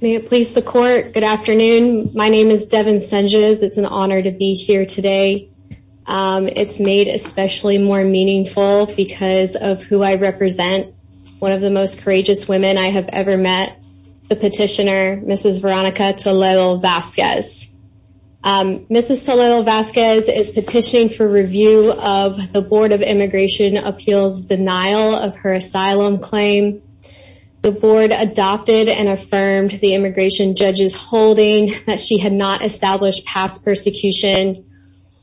May it please the court. Good afternoon. My name is Devin Senges. It's an honor to be here today. It's made especially more meaningful because of who I represent. One of the most courageous women I have ever met, the petitioner, Mrs. Veronica Toledo-Vasquez. Mrs. Toledo-Vasquez is petitioning for review of the Board of Immigration Appeals denial of her asylum claim. The board adopted and affirmed the immigration judge's holding that she had not established past persecution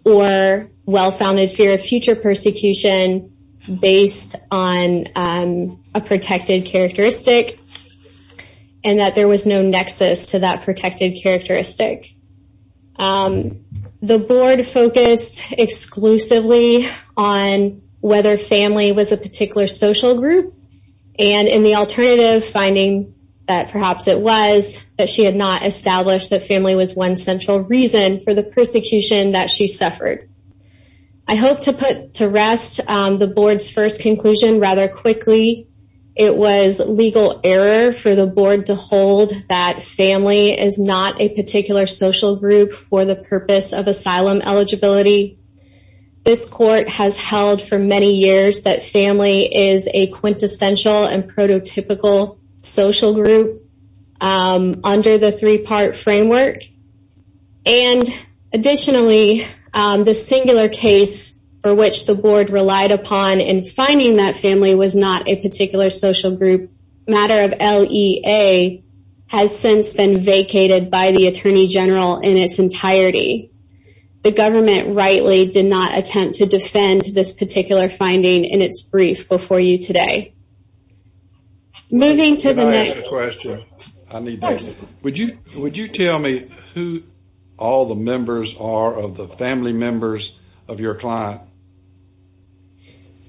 or well-founded fear of future persecution based on a protected characteristic and that there was no nexus to that protected characteristic. The board focused exclusively on whether family was a particular social group and in the alternative finding that perhaps it was that she had not established that family was one central reason for the persecution that she suffered. I hope to put to rest the board's first conclusion rather quickly. It was legal error for the board to hold that family is not a particular social group for the purpose of asylum eligibility. This court has held for many years that family is a quintessential and prototypical social group under the three-part framework. Additionally, the singular case for which the board relied upon in finding that family was not a particular social group, matter of LEA, has since been vacated by the Attorney General in its entirety. The government rightly did not attempt to defend this particular finding in its brief before you today. Moving to the next question. Would you tell me who all the members are of the family members of your client?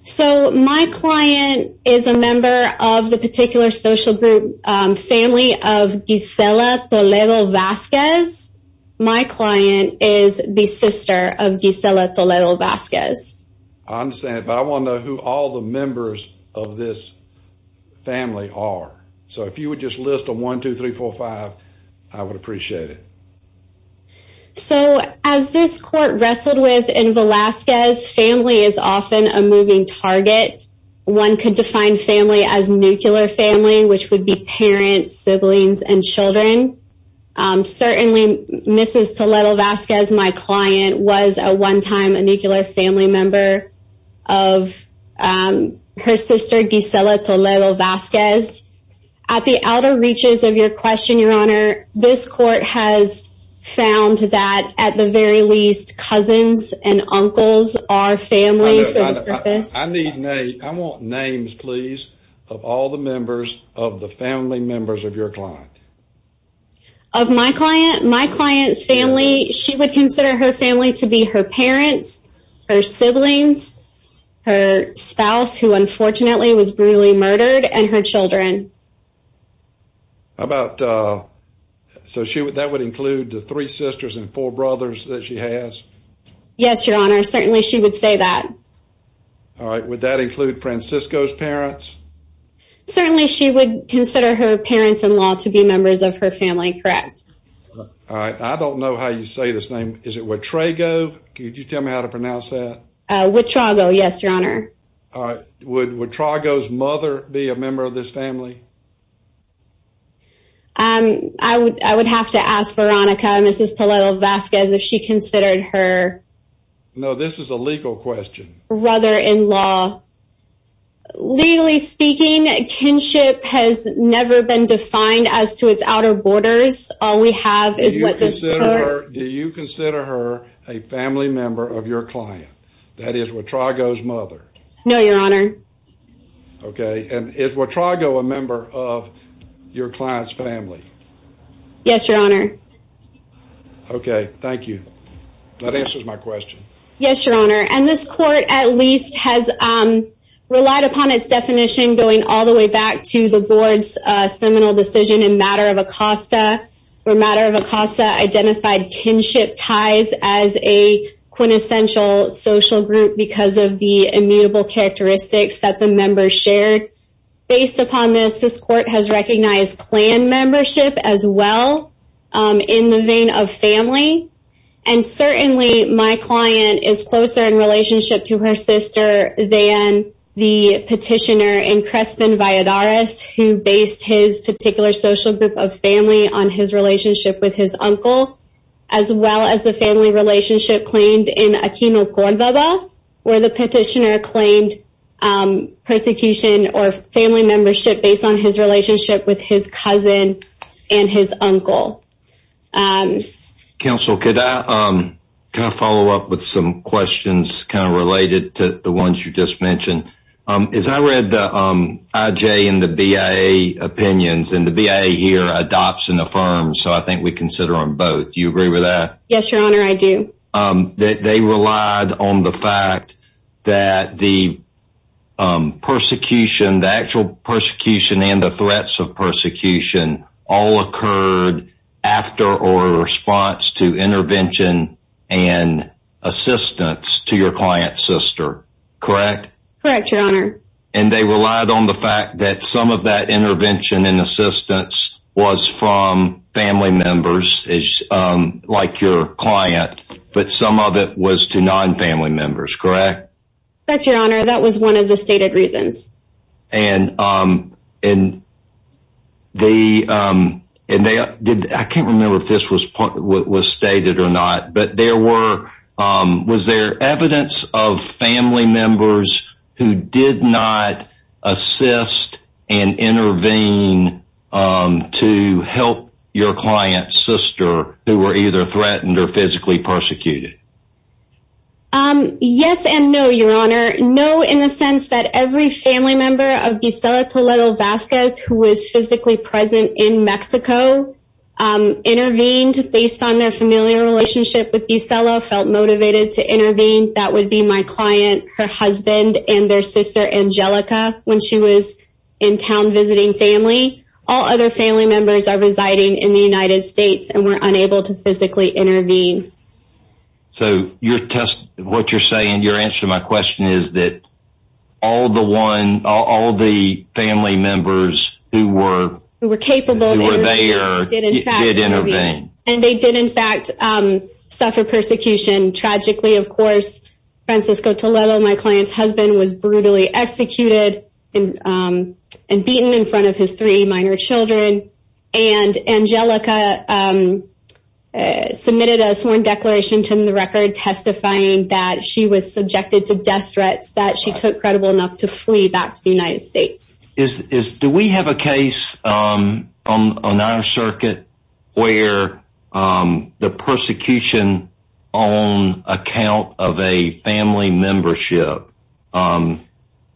So my client is a member of the particular social group family of Gisela Toledo Vasquez. My client is the sister of Gisela Toledo Vasquez. I understand, but I want to know who all the members of this family are. So if you would just list them, 1, 2, 3, 4, 5, I would appreciate it. So as this court wrestled with in Velazquez, family is often a moving target. One could define family as nuclear family, which would be parents, siblings, and children. Certainly, Mrs. Toledo Vasquez, my client, was a one-time nuclear family member of her sister, Gisela Toledo Vasquez. At the outer reaches of your question, Your Honor, this court has found that, at the very least, cousins and uncles are family. I want names, please, of all the members of the family members of your client. Of my client's family, she would consider her family to be her parents, her siblings, her spouse, who unfortunately was brutally murdered, and her children. So that would include the three sisters and four brothers that she has? Yes, Your Honor. Certainly, she would say that. All right. Would that include Francisco's parents? Certainly, she would consider her parents-in-law to be members of her family, correct? All right. I don't know how you say this name. Is it Wittrego? Could you tell me how to pronounce that? Wittrego, yes, Your Honor. All right. Would Wittrego's mother be a member of this family? I would have to ask Veronica, Mrs. Toledo Vasquez, if she considered her… No, this is a legal question. …brother-in-law. Legally speaking, kinship has never been defined as to its outer borders. All we have is what this court… Do you consider her a family member of your client, that is, Wittrego's mother? No, Your Honor. Okay. And is Wittrego a member of your client's family? Yes, Your Honor. Okay. Thank you. That answers my question. Yes, Your Honor. And this court, at least, has relied upon its definition going all the way back to the board's seminal decision in Matter of Acosta, where Matter of Acosta identified kinship ties as a quintessential social group because of the immutable characteristics that the members shared. Based upon this, this court has recognized clan membership as well in the vein of family. And certainly, my client is closer in relationship to her sister than the petitioner in Crespin Valladares, who based his particular social group of family on his relationship with his uncle, as well as the family relationship claimed in Aquino Cordoba, where the petitioner claimed persecution or family membership based on his relationship with his cousin and his uncle. Counsel, could I follow up with some questions kind of related to the ones you just mentioned? As I read the IJ and the BIA opinions, and the BIA here adopts and affirms, so I think we consider them both. Do you agree with that? Yes, Your Honor, I do. They relied on the fact that the actual persecution and the threats of persecution all occurred after or in response to intervention and assistance to your client's sister, correct? Correct, Your Honor. And they relied on the fact that some of that intervention and assistance was from family members, like your client, but some of it was to non-family members, correct? That's right, Your Honor. That was one of the stated reasons. I can't remember if this was stated or not, but was there evidence of family members who did not assist and intervene to help your client's sister who were either threatened or physically persecuted? Yes and no, Your Honor. No, in the sense that every family member of Bisela Toledo Vasquez, who was physically present in Mexico, intervened based on their familiar relationship with Bisela, felt motivated to intervene. That would be my client, her husband, and their sister, Angelica, when she was in town visiting family. All other family members are residing in the United States and were unable to physically intervene. So what you're saying, your answer to my question, is that all the family members who were there did intervene. And they did, in fact, suffer persecution. Tragically, of course, Francisco Toledo, my client's husband, was brutally executed and beaten in front of his three minor children. And Angelica submitted a sworn declaration to the record testifying that she was subjected to death threats that she took credible enough to flee back to the United States. Do we have a case on our circuit where the persecution on account of a family membership,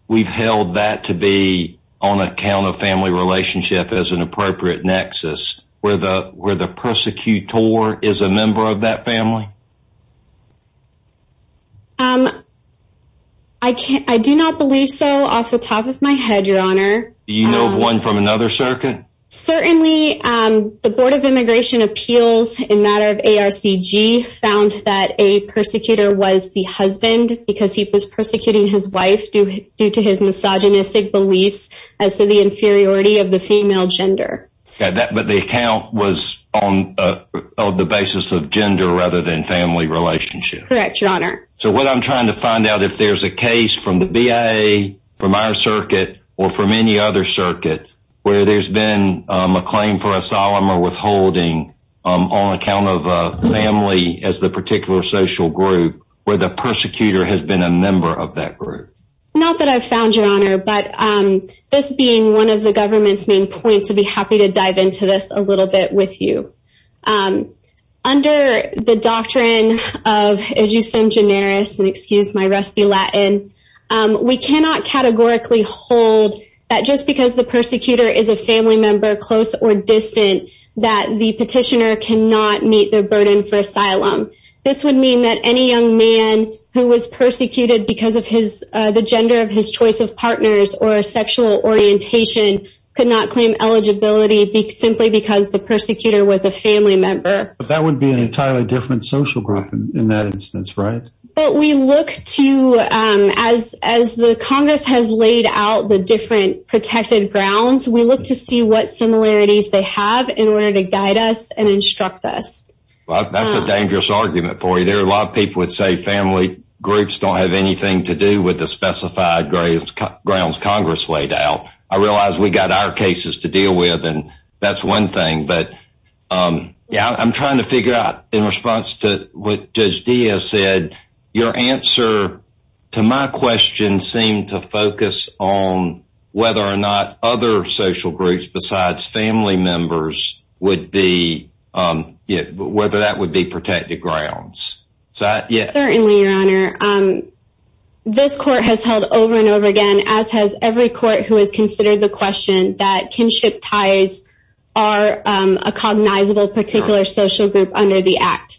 we've held that to be on account of family relationship as an appropriate nexus, where the persecutor is a member of that family? I do not believe so off the top of my head, Your Honor. Do you know of one from another circuit? Certainly, the Board of Immigration Appeals in matter of ARCG found that a persecutor was the husband because he was persecuting his wife due to his misogynistic beliefs as to the inferiority of the female gender. But the account was on the basis of gender rather than family relationship. Correct, Your Honor. So what I'm trying to find out, if there's a case from the BIA, from our circuit, or from any other circuit, where there's been a claim for a solemn or withholding on account of a family as the particular social group, where the persecutor has been a member of that group? Not that I've found, Your Honor, but this being one of the government's main points, I'd be happy to dive into this a little bit with you. Under the doctrine of, as you said, generis, and excuse my rusty Latin, we cannot categorically hold that just because the persecutor is a family member, close or distant, that the petitioner cannot meet their burden for asylum. This would mean that any young man who was persecuted because of the gender of his choice of partners or sexual orientation could not claim eligibility simply because the persecutor was a family member. But that would be an entirely different social group in that instance, right? But we look to, as the Congress has laid out the different protected grounds, we look to see what similarities they have in order to guide us and instruct us. That's a dangerous argument for you. A lot of people would say family groups don't have anything to do with the specified grounds Congress laid out. I realize we've got our cases to deal with, and that's one thing. I'm trying to figure out, in response to what Judge Diaz said, your answer to my question seemed to focus on whether or not other social groups besides family members would be, whether that would be protected grounds. Certainly, Your Honor. This court has held over and over again, as has every court who has considered the question, that kinship ties are a cognizable particular social group under the Act.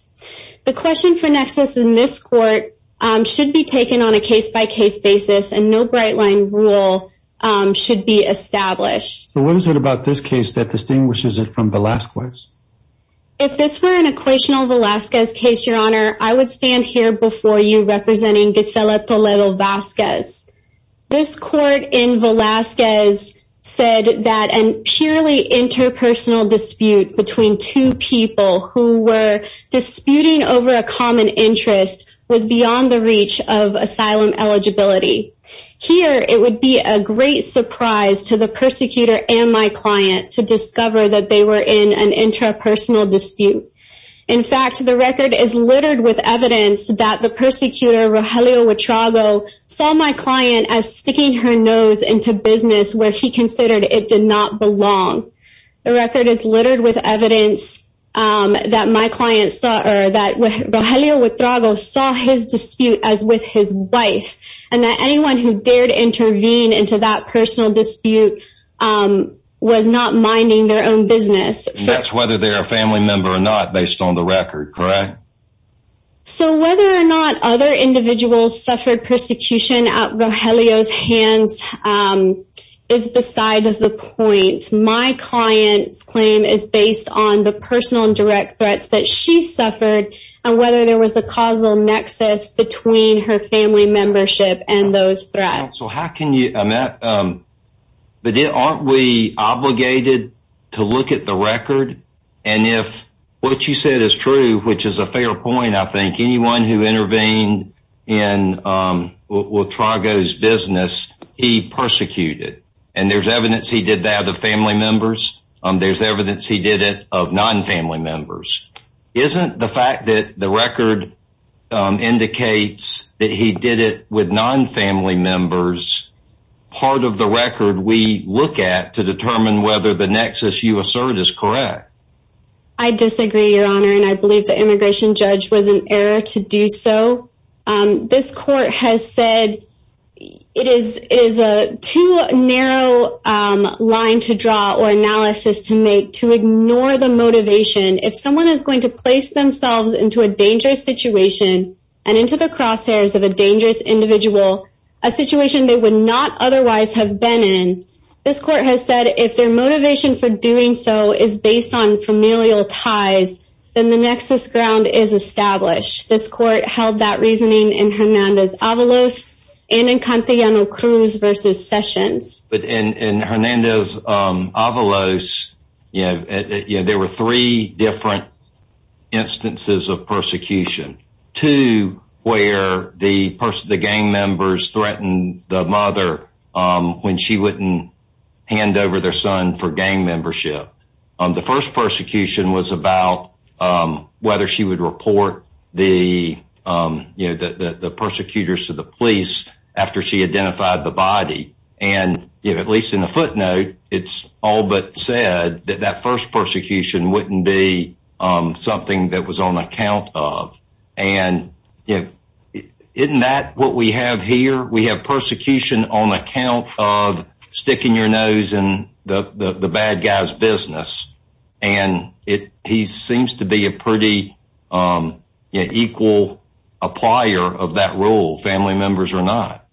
The question for nexus in this court should be taken on a case-by-case basis, and no bright-line rule should be established. What is it about this case that distinguishes it from Velazquez? If this were an equational Velazquez case, Your Honor, I would stand here before you representing Gisela Toledo Velazquez. This court in Velazquez said that a purely interpersonal dispute between two people who were disputing over a common interest was beyond the reach of asylum eligibility. Here, it would be a great surprise to the persecutor and my client to discover that they were in an interpersonal dispute. In fact, the record is littered with evidence that the persecutor, Rogelio Wittrago, saw my client as sticking her nose into business where he considered it did not belong. The record is littered with evidence that Rogelio Wittrago saw his dispute as with his wife, and that anyone who dared intervene into that personal dispute was not minding their own business. And that's whether they're a family member or not based on the record, correct? So whether or not other individuals suffered persecution at Rogelio's hands is beside the point. My client's claim is based on the personal and direct threats that she suffered and whether there was a causal nexus between her family membership and those threats. But aren't we obligated to look at the record? And if what you said is true, which is a fair point, I think anyone who intervened in Wittrago's business, he persecuted. And there's evidence he did that of family members. There's evidence he did it of non-family members. Isn't the fact that the record indicates that he did it with non-family members part of the record we look at to determine whether the nexus you assert is correct? I disagree, Your Honor, and I believe the immigration judge was in error to do so. This court has said it is a too narrow line to draw or analysis to make to ignore the motivation. If someone is going to place themselves into a dangerous situation and into the crosshairs of a dangerous individual, a situation they would not otherwise have been in, this court has said if their motivation for doing so is based on familial ties, then the nexus ground is established. This court held that reasoning in Hernandez-Avalos and in Cantellano-Cruz v. Sessions. In Hernandez-Avalos, there were three different instances of persecution. Two where the gang members threatened the mother when she wouldn't hand over their son for gang membership. The first persecution was about whether she would report the persecutors to the police after she identified the body. At least in the footnote, it's all but said that that first persecution wouldn't be something that was on account of. Isn't that what we have here? We have persecution on account of sticking your nose in the bad guy's business. He seems to be a pretty equal applier of that rule, family members or not.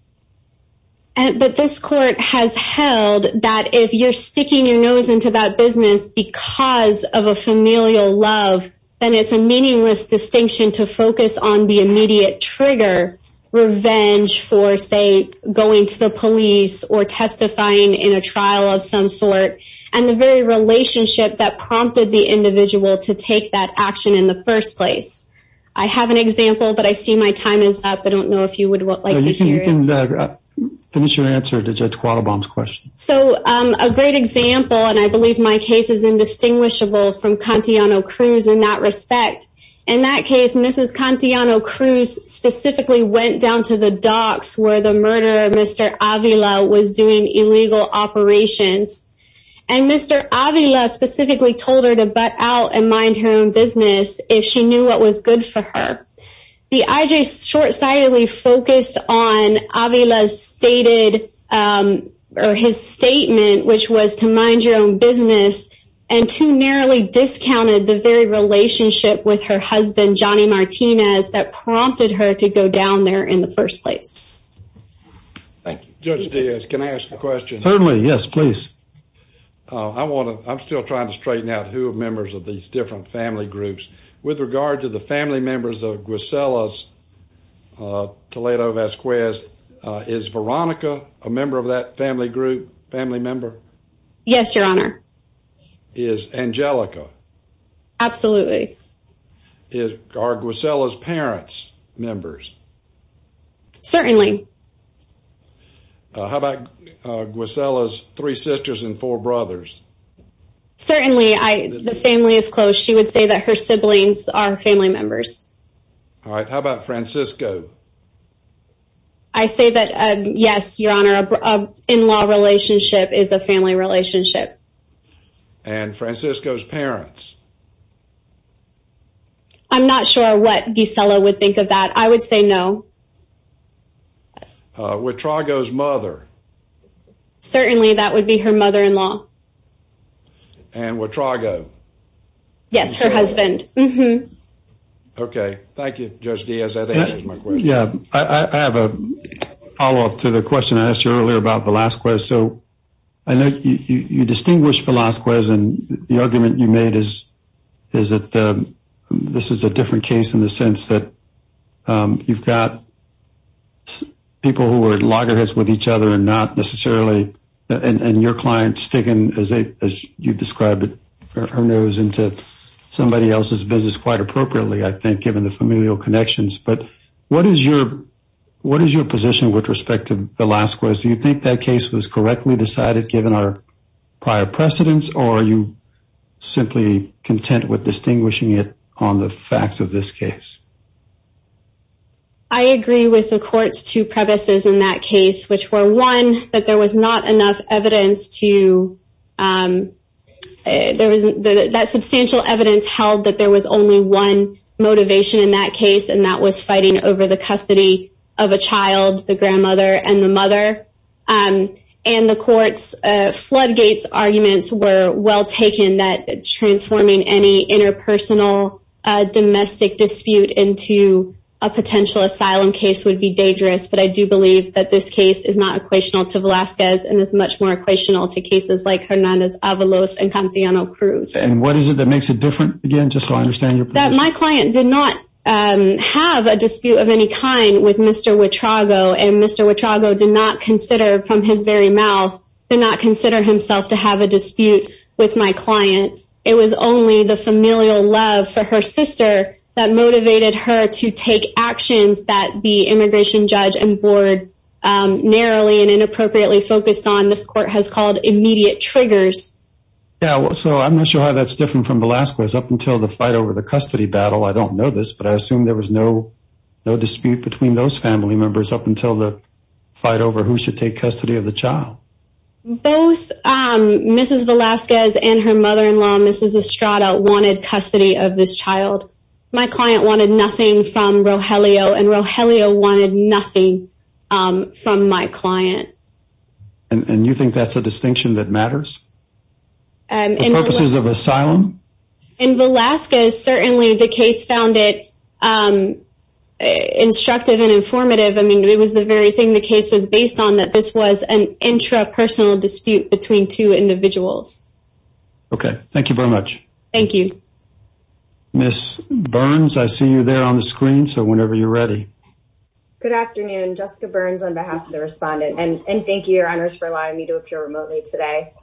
But this court has held that if you're sticking your nose into that business because of a familial love, then it's a meaningless distinction to focus on the immediate trigger. Revenge for, say, going to the police or testifying in a trial of some sort and the very relationship that prompted the individual to take that action in the first place. I have an example, but I see my time is up. I don't know if you would like to hear it. Finish your answer to Judge Quattlebaum's question. So a great example, and I believe my case is indistinguishable from Contiano Cruz in that respect. In that case, Mrs. Contiano Cruz specifically went down to the docks where the murderer, Mr. Avila, was doing illegal operations. And Mr. Avila specifically told her to butt out and mind her own business if she knew what was good for her. The IJs short-sightedly focused on Avila's statement, which was to mind your own business, and too narrowly discounted the very relationship with her husband, Johnny Martinez, that prompted her to go down there in the first place. Thank you. Judge Diaz, can I ask a question? Certainly. Yes, please. I'm still trying to straighten out who are members of these different family groups. With regard to the family members of Guisela's Toledo-Vasquez, is Veronica a member of that family group, family member? Yes, Your Honor. Is Angelica? Absolutely. Are Guisela's parents members? Certainly. How about Guisela's three sisters and four brothers? Certainly. The family is close. She would say that her siblings are family members. All right. How about Francisco? I say that, yes, Your Honor, an in-law relationship is a family relationship. And Francisco's parents? I'm not sure what Guisela would think of that. I would say no. What Trago's mother? Certainly, that would be her mother-in-law. And what Trago? Yes, her husband. Okay. Thank you, Judge Diaz. That answers my question. Yeah. I have a follow-up to the question I asked you earlier about Velazquez. So I know you distinguish Velazquez, and the argument you made is that this is a different case in the sense that you've got people who are loggerheads with each other and your client's taken, as you described it, her nose into somebody else's business quite appropriately, I think, given the familial connections. But what is your position with respect to Velazquez? Do you think that case was correctly decided given our prior precedence, or are you simply content with distinguishing it on the facts of this case? I agree with the Court's two premises in that case, which were, one, that there was not enough evidence to – that substantial evidence held that there was only one motivation in that case, and that was fighting over the custody of a child, the grandmother, and the mother. And the Court's floodgates arguments were well taken that transforming any interpersonal domestic dispute into a potential asylum case would be dangerous, but I do believe that this case is not equational to Velazquez and is much more equational to cases like Hernandez-Avalos and Cantillano-Cruz. And what is it that makes it different, again, just so I understand your position? My client did not have a dispute of any kind with Mr. Wittrago, and Mr. Wittrago did not consider, from his very mouth, did not consider himself to have a dispute with my client. It was only the familial love for her sister that motivated her to take actions that the immigration judge and board narrowly and inappropriately focused on. This Court has called immediate triggers. Yeah, so I'm not sure how that's different from Velazquez up until the fight over the custody battle. I don't know this, but I assume there was no dispute between those family members up until the fight over who should take custody of the child. Both Mrs. Velazquez and her mother-in-law, Mrs. Estrada, wanted custody of this child. My client wanted nothing from Rogelio, and Rogelio wanted nothing from my client. And you think that's a distinction that matters? The purposes of asylum? In Velazquez, certainly the case found it instructive and informative. I mean, it was the very thing the case was based on, that this was an intrapersonal dispute between two individuals. Okay, thank you very much. Thank you. Ms. Burns, I see you there on the screen, so whenever you're ready. Good afternoon. Jessica Burns on behalf of the respondent, and thank you, Your Honors, for allowing me to appear remotely today.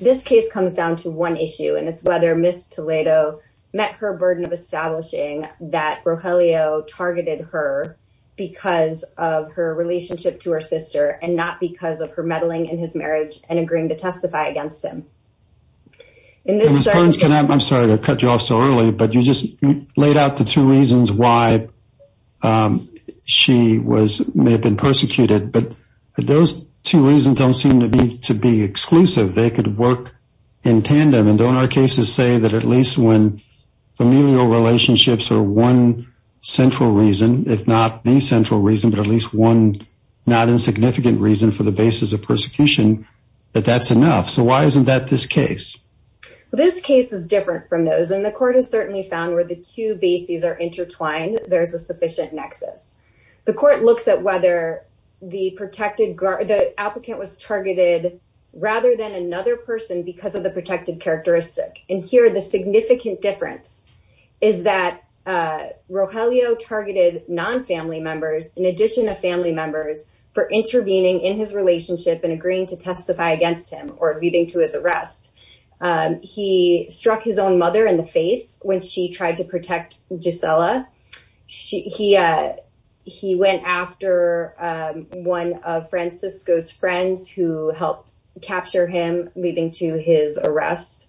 This case comes down to one issue, and it's whether Ms. Toledo met her burden of establishing that Rogelio targeted her because of her relationship to her sister and not because of her meddling in his marriage and agreeing to testify against him. Ms. Burns, I'm sorry to cut you off so early, but you just laid out the two reasons why she may have been persecuted, but those two reasons don't seem to be exclusive. They could work in tandem, and don't our cases say that at least when familial relationships are one central reason, if not the central reason, but at least one not insignificant reason for the basis of persecution, that that's enough? So why isn't that this case? This case is different from those, and the court has certainly found where the two bases are intertwined, there's a sufficient nexus. The court looks at whether the applicant was targeted rather than another person because of the protected characteristic, and here the significant difference is that Rogelio targeted non-family members in addition to family members for intervening in his relationship and agreeing to testify against him or leading to his arrest. He struck his own mother in the face when she tried to protect Gisela. He went after one of Francisco's friends who helped capture him leading to his arrest.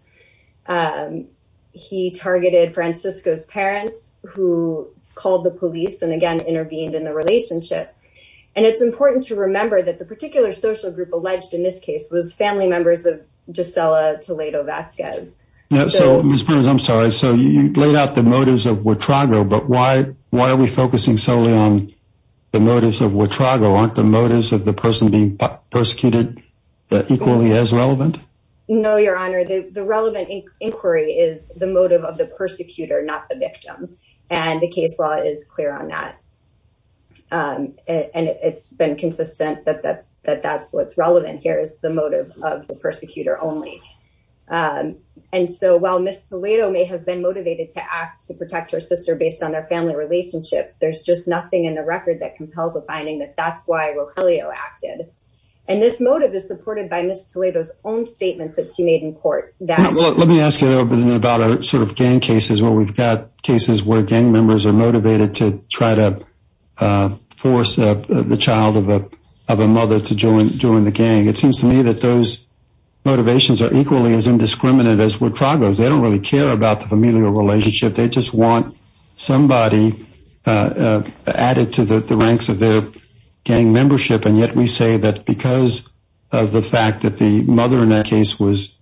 He targeted Francisco's parents who called the police and again intervened in the relationship. And it's important to remember that the particular social group alleged in this case was family members of Gisela Toledo-Vazquez. Ms. Pernas, I'm sorry, so you laid out the motives of Wittrago, but why are we focusing solely on the motives of Wittrago? Aren't the motives of the person being persecuted equally as relevant? No, Your Honor, the relevant inquiry is the motive of the persecutor, not the victim, and the case law is clear on that. And it's been consistent that that's what's relevant here is the motive of the persecutor only. And so while Ms. Toledo may have been motivated to act to protect her sister based on their family relationship, there's just nothing in the record that compels a finding that that's why Rogelio acted. And this motive is supported by Ms. Toledo's own statements that she made in court. Let me ask you a little bit about our sort of gang cases where we've got cases where gang members are motivated to try to force the child of a mother to join the gang. It seems to me that those motivations are equally as indiscriminate as Wittrago's. They don't really care about the familial relationship. They just want somebody added to the ranks of their gang membership. And yet we say that because of the fact that the mother in that case was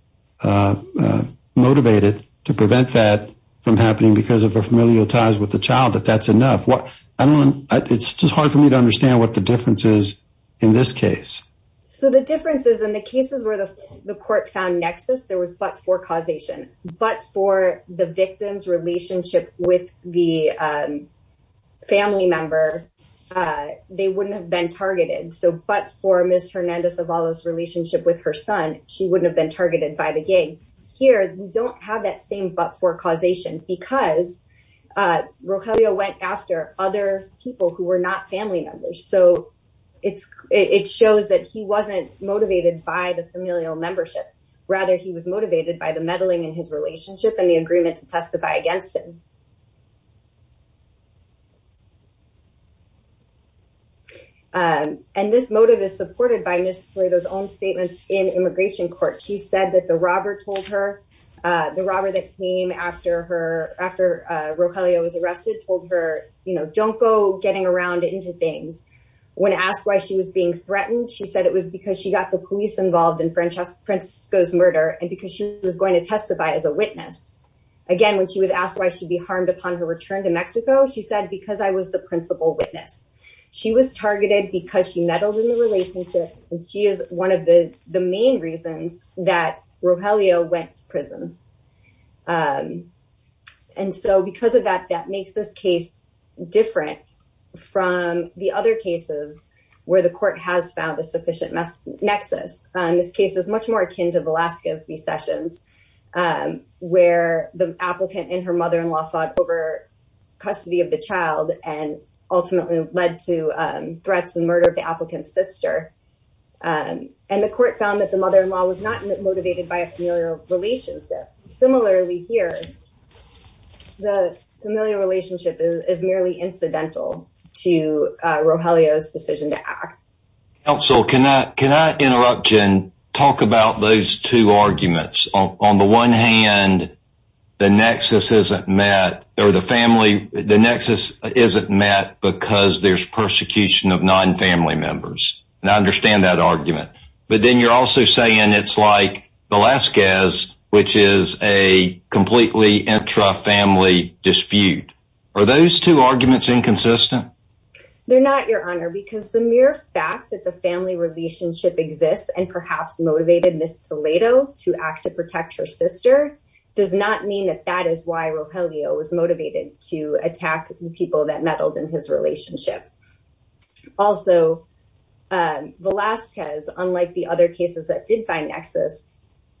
motivated to prevent that from happening because of her familial ties with the child, that that's enough. It's just hard for me to understand what the difference is in this case. So the difference is in the cases where the court found nexus, there was but for causation. But for the victim's relationship with the family member, they wouldn't have been targeted. So but for Ms. Hernandez-Avalos' relationship with her son, she wouldn't have been targeted by the gang. Here, you don't have that same but for causation because Rogelio went after other people who were not family members. So it shows that he wasn't motivated by the familial membership. Rather, he was motivated by the meddling in his relationship and the agreement to testify against him. And this motive is supported by Ms. Torredo's own statement in immigration court. She said that the robber told her the robber that came after her after Rogelio was arrested, told her, you know, don't go getting around into things. When asked why she was being threatened, she said it was because she got the police involved in Francisco's murder and because she was going to testify as a witness. Again, when she was asked why she'd be harmed upon her return to Mexico, she said, because I was the principal witness. She was targeted because she meddled in the relationship. And she is one of the main reasons that Rogelio went to prison. And so because of that, that makes this case different from the other cases where the court has found a sufficient nexus. This case is much more akin to Velasquez's recessions, where the applicant and her mother-in-law fought over custody of the child and ultimately led to threats and murder of the applicant's sister. And the court found that the mother-in-law was not motivated by a familial relationship. Similarly here, the familial relationship is merely incidental to Rogelio's decision to act. Counsel, can I interrupt you and talk about those two arguments? On the one hand, the nexus isn't met because there's persecution of non-family members. And I understand that argument. But then you're also saying it's like Velasquez, which is a completely intra-family dispute. Are those two arguments inconsistent? They're not, Your Honor, because the mere fact that the family relationship exists and perhaps motivated Ms. Toledo to act to protect her sister does not mean that that is why Rogelio was motivated to attack the people that meddled in his relationship. Also, Velasquez, unlike the other cases that did find nexus,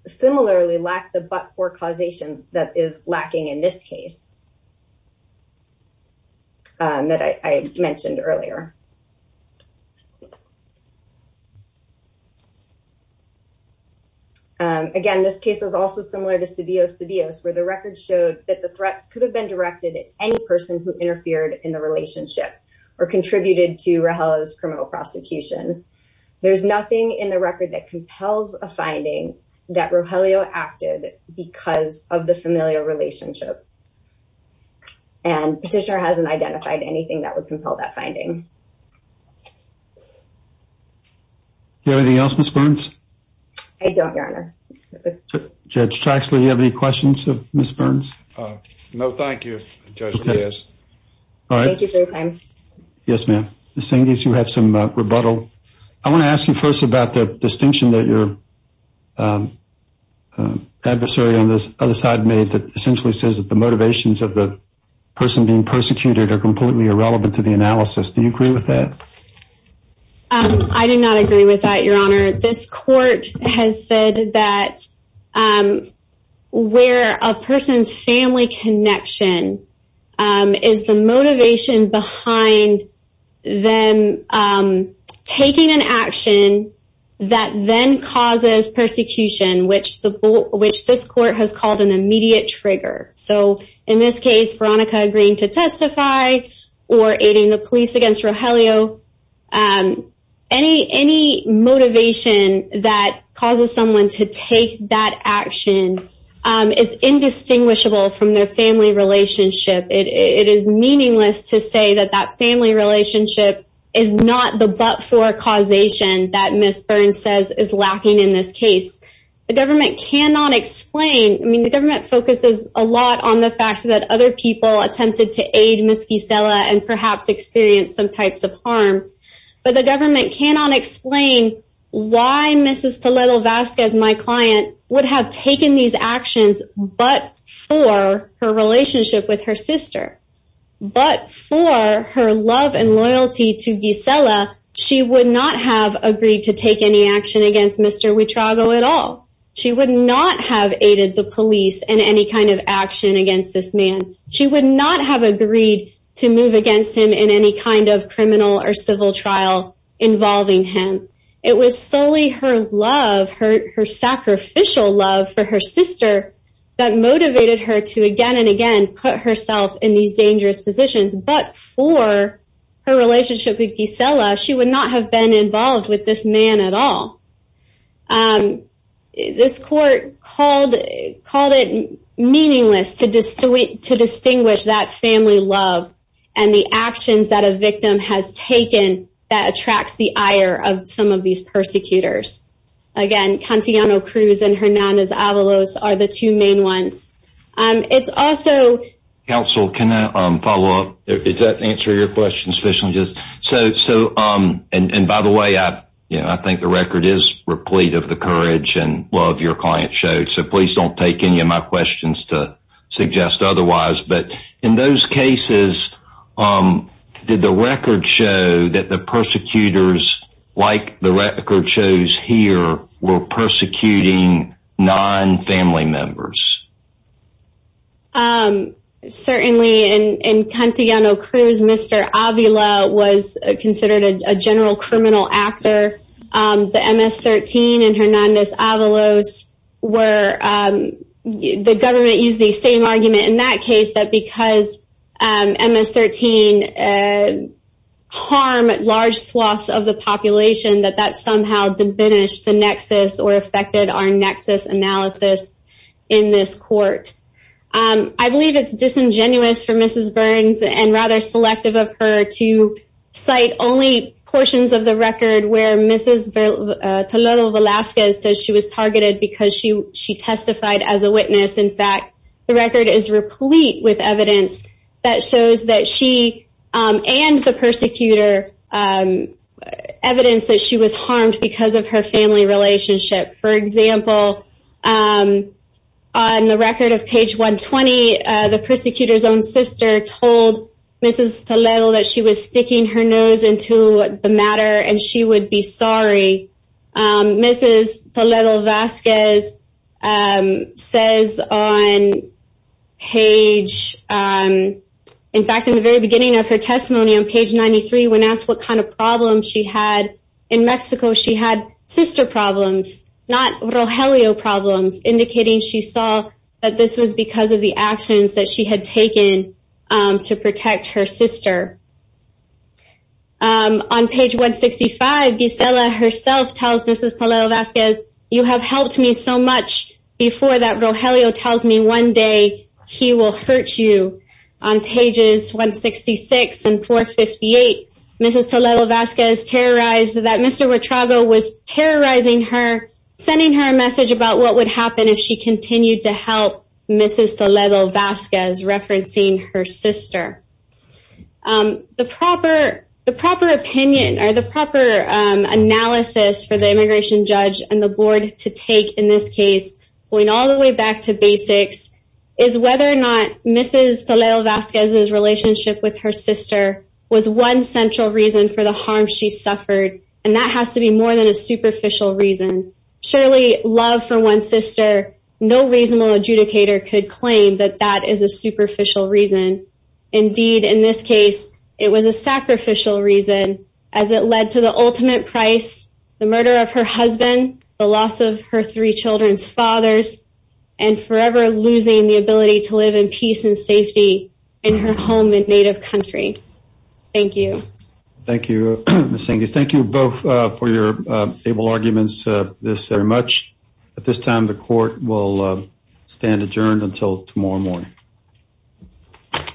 similarly lacked the but-for causation that is lacking in this case that I mentioned earlier. Again, this case is also similar to Cedillo-Cedillo, where the record showed that the threats could have been directed at any person who interfered in the relationship or contributed to Rogelio's criminal prosecution. There's nothing in the record that compels a finding that Rogelio acted because of the familial relationship. And Petitioner hasn't identified anything that would compel that finding. Do you have anything else, Ms. Burns? I don't, Your Honor. Judge Traxler, do you have any questions of Ms. Burns? No, thank you, Judge Diaz. Thank you for your time. Yes, ma'am. Ms. Cengiz, you have some rebuttal. I want to ask you first about the distinction that your adversary on the other side made that essentially says that the motivations of the person being persecuted are completely irrelevant to the analysis. Do you agree with that? I do not agree with that, Your Honor. This court has said that where a person's family connection is the motivation behind them taking an action that then causes persecution, which this court has called an immediate trigger. So, in this case, Veronica agreeing to testify or aiding the police against Rogelio, any motivation that causes someone to take that action is indistinguishable from their family relationship. It is meaningless to say that that family relationship is not the but-for causation that Ms. Burns says is lacking in this case. The government cannot explain. I mean, the government focuses a lot on the fact that other people attempted to aid Ms. Gisela and perhaps experienced some types of harm. But the government cannot explain why Mrs. Toledo-Vasquez, my client, would have taken these actions but for her relationship with her sister. But for her love and loyalty to Gisela, she would not have agreed to take any action against Mr. Wittrago at all. She would not have aided the police in any kind of action against this man. She would not have agreed to move against him in any kind of criminal or civil trial involving him. It was solely her love, her sacrificial love for her sister, that motivated her to again and again put herself in these dangerous positions. But for her relationship with Gisela, she would not have been involved with this man at all. This court called it meaningless to distinguish that family love and the actions that a victim has taken that attracts the ire of some of these persecutors. Again, Cantiano-Cruz and Hernandez-Avalos are the two main ones. Counsel, can I follow up? Does that answer your question? By the way, I think the record is replete of the courage and love your client showed. So please don't take any of my questions to suggest otherwise. But in those cases, did the record show that the persecutors, like the record shows here, were persecuting non-family members? Certainly, in Cantiano-Cruz, Mr. Avila was considered a general criminal actor. The MS-13 and Hernandez-Avalos were. The government used the same argument in that case that because MS-13 harmed large swaths of the population, that that somehow diminished the nexus or affected our nexus analysis in this court. I believe it's disingenuous for Mrs. Burns and rather selective of her to cite only portions of the record where Mrs. Toledo-Velasquez says she was targeted because she testified as a witness. In fact, the record is replete with evidence that shows that she and the persecutor, evidence that she was harmed because of her family relationship. For example, on the record of page 120, the persecutor's own sister told Mrs. Toledo that she was sticking her nose into the matter and she would be sorry. Mrs. Toledo-Velasquez says on page, in fact in the very beginning of her testimony on page 93, when asked what kind of problems she had, in Mexico she had sister problems, not Rogelio problems, indicating she saw that this was because of the actions that she had taken to protect her sister. On page 165, Gisela herself tells Mrs. Toledo-Velasquez, you have helped me so much before that Rogelio tells me one day he will hurt you. On pages 166 and 458, Mrs. Toledo-Velasquez terrorized that Mr. Huertrago was terrorizing her, sending her a message about what would happen if she continued to help Mrs. Toledo-Velasquez referencing her sister. The proper opinion or the proper analysis for the immigration judge and the board to take in this case, going all the way back to basics, is whether or not Mrs. Toledo-Velasquez's relationship with her sister was one central reason for the harm she suffered, and that has to be more than a superficial reason. Surely, love for one's sister, no reasonable adjudicator could claim that that is a superficial reason. Indeed, in this case, it was a sacrificial reason as it led to the ultimate price, the murder of her husband, the loss of her three children's fathers, and forever losing the ability to live in peace and safety in her home and native country. Thank you. Thank you, Ms. Enges. Thank you both for your able arguments this very much. At this time, the court will stand adjourned until tomorrow morning. Thank you.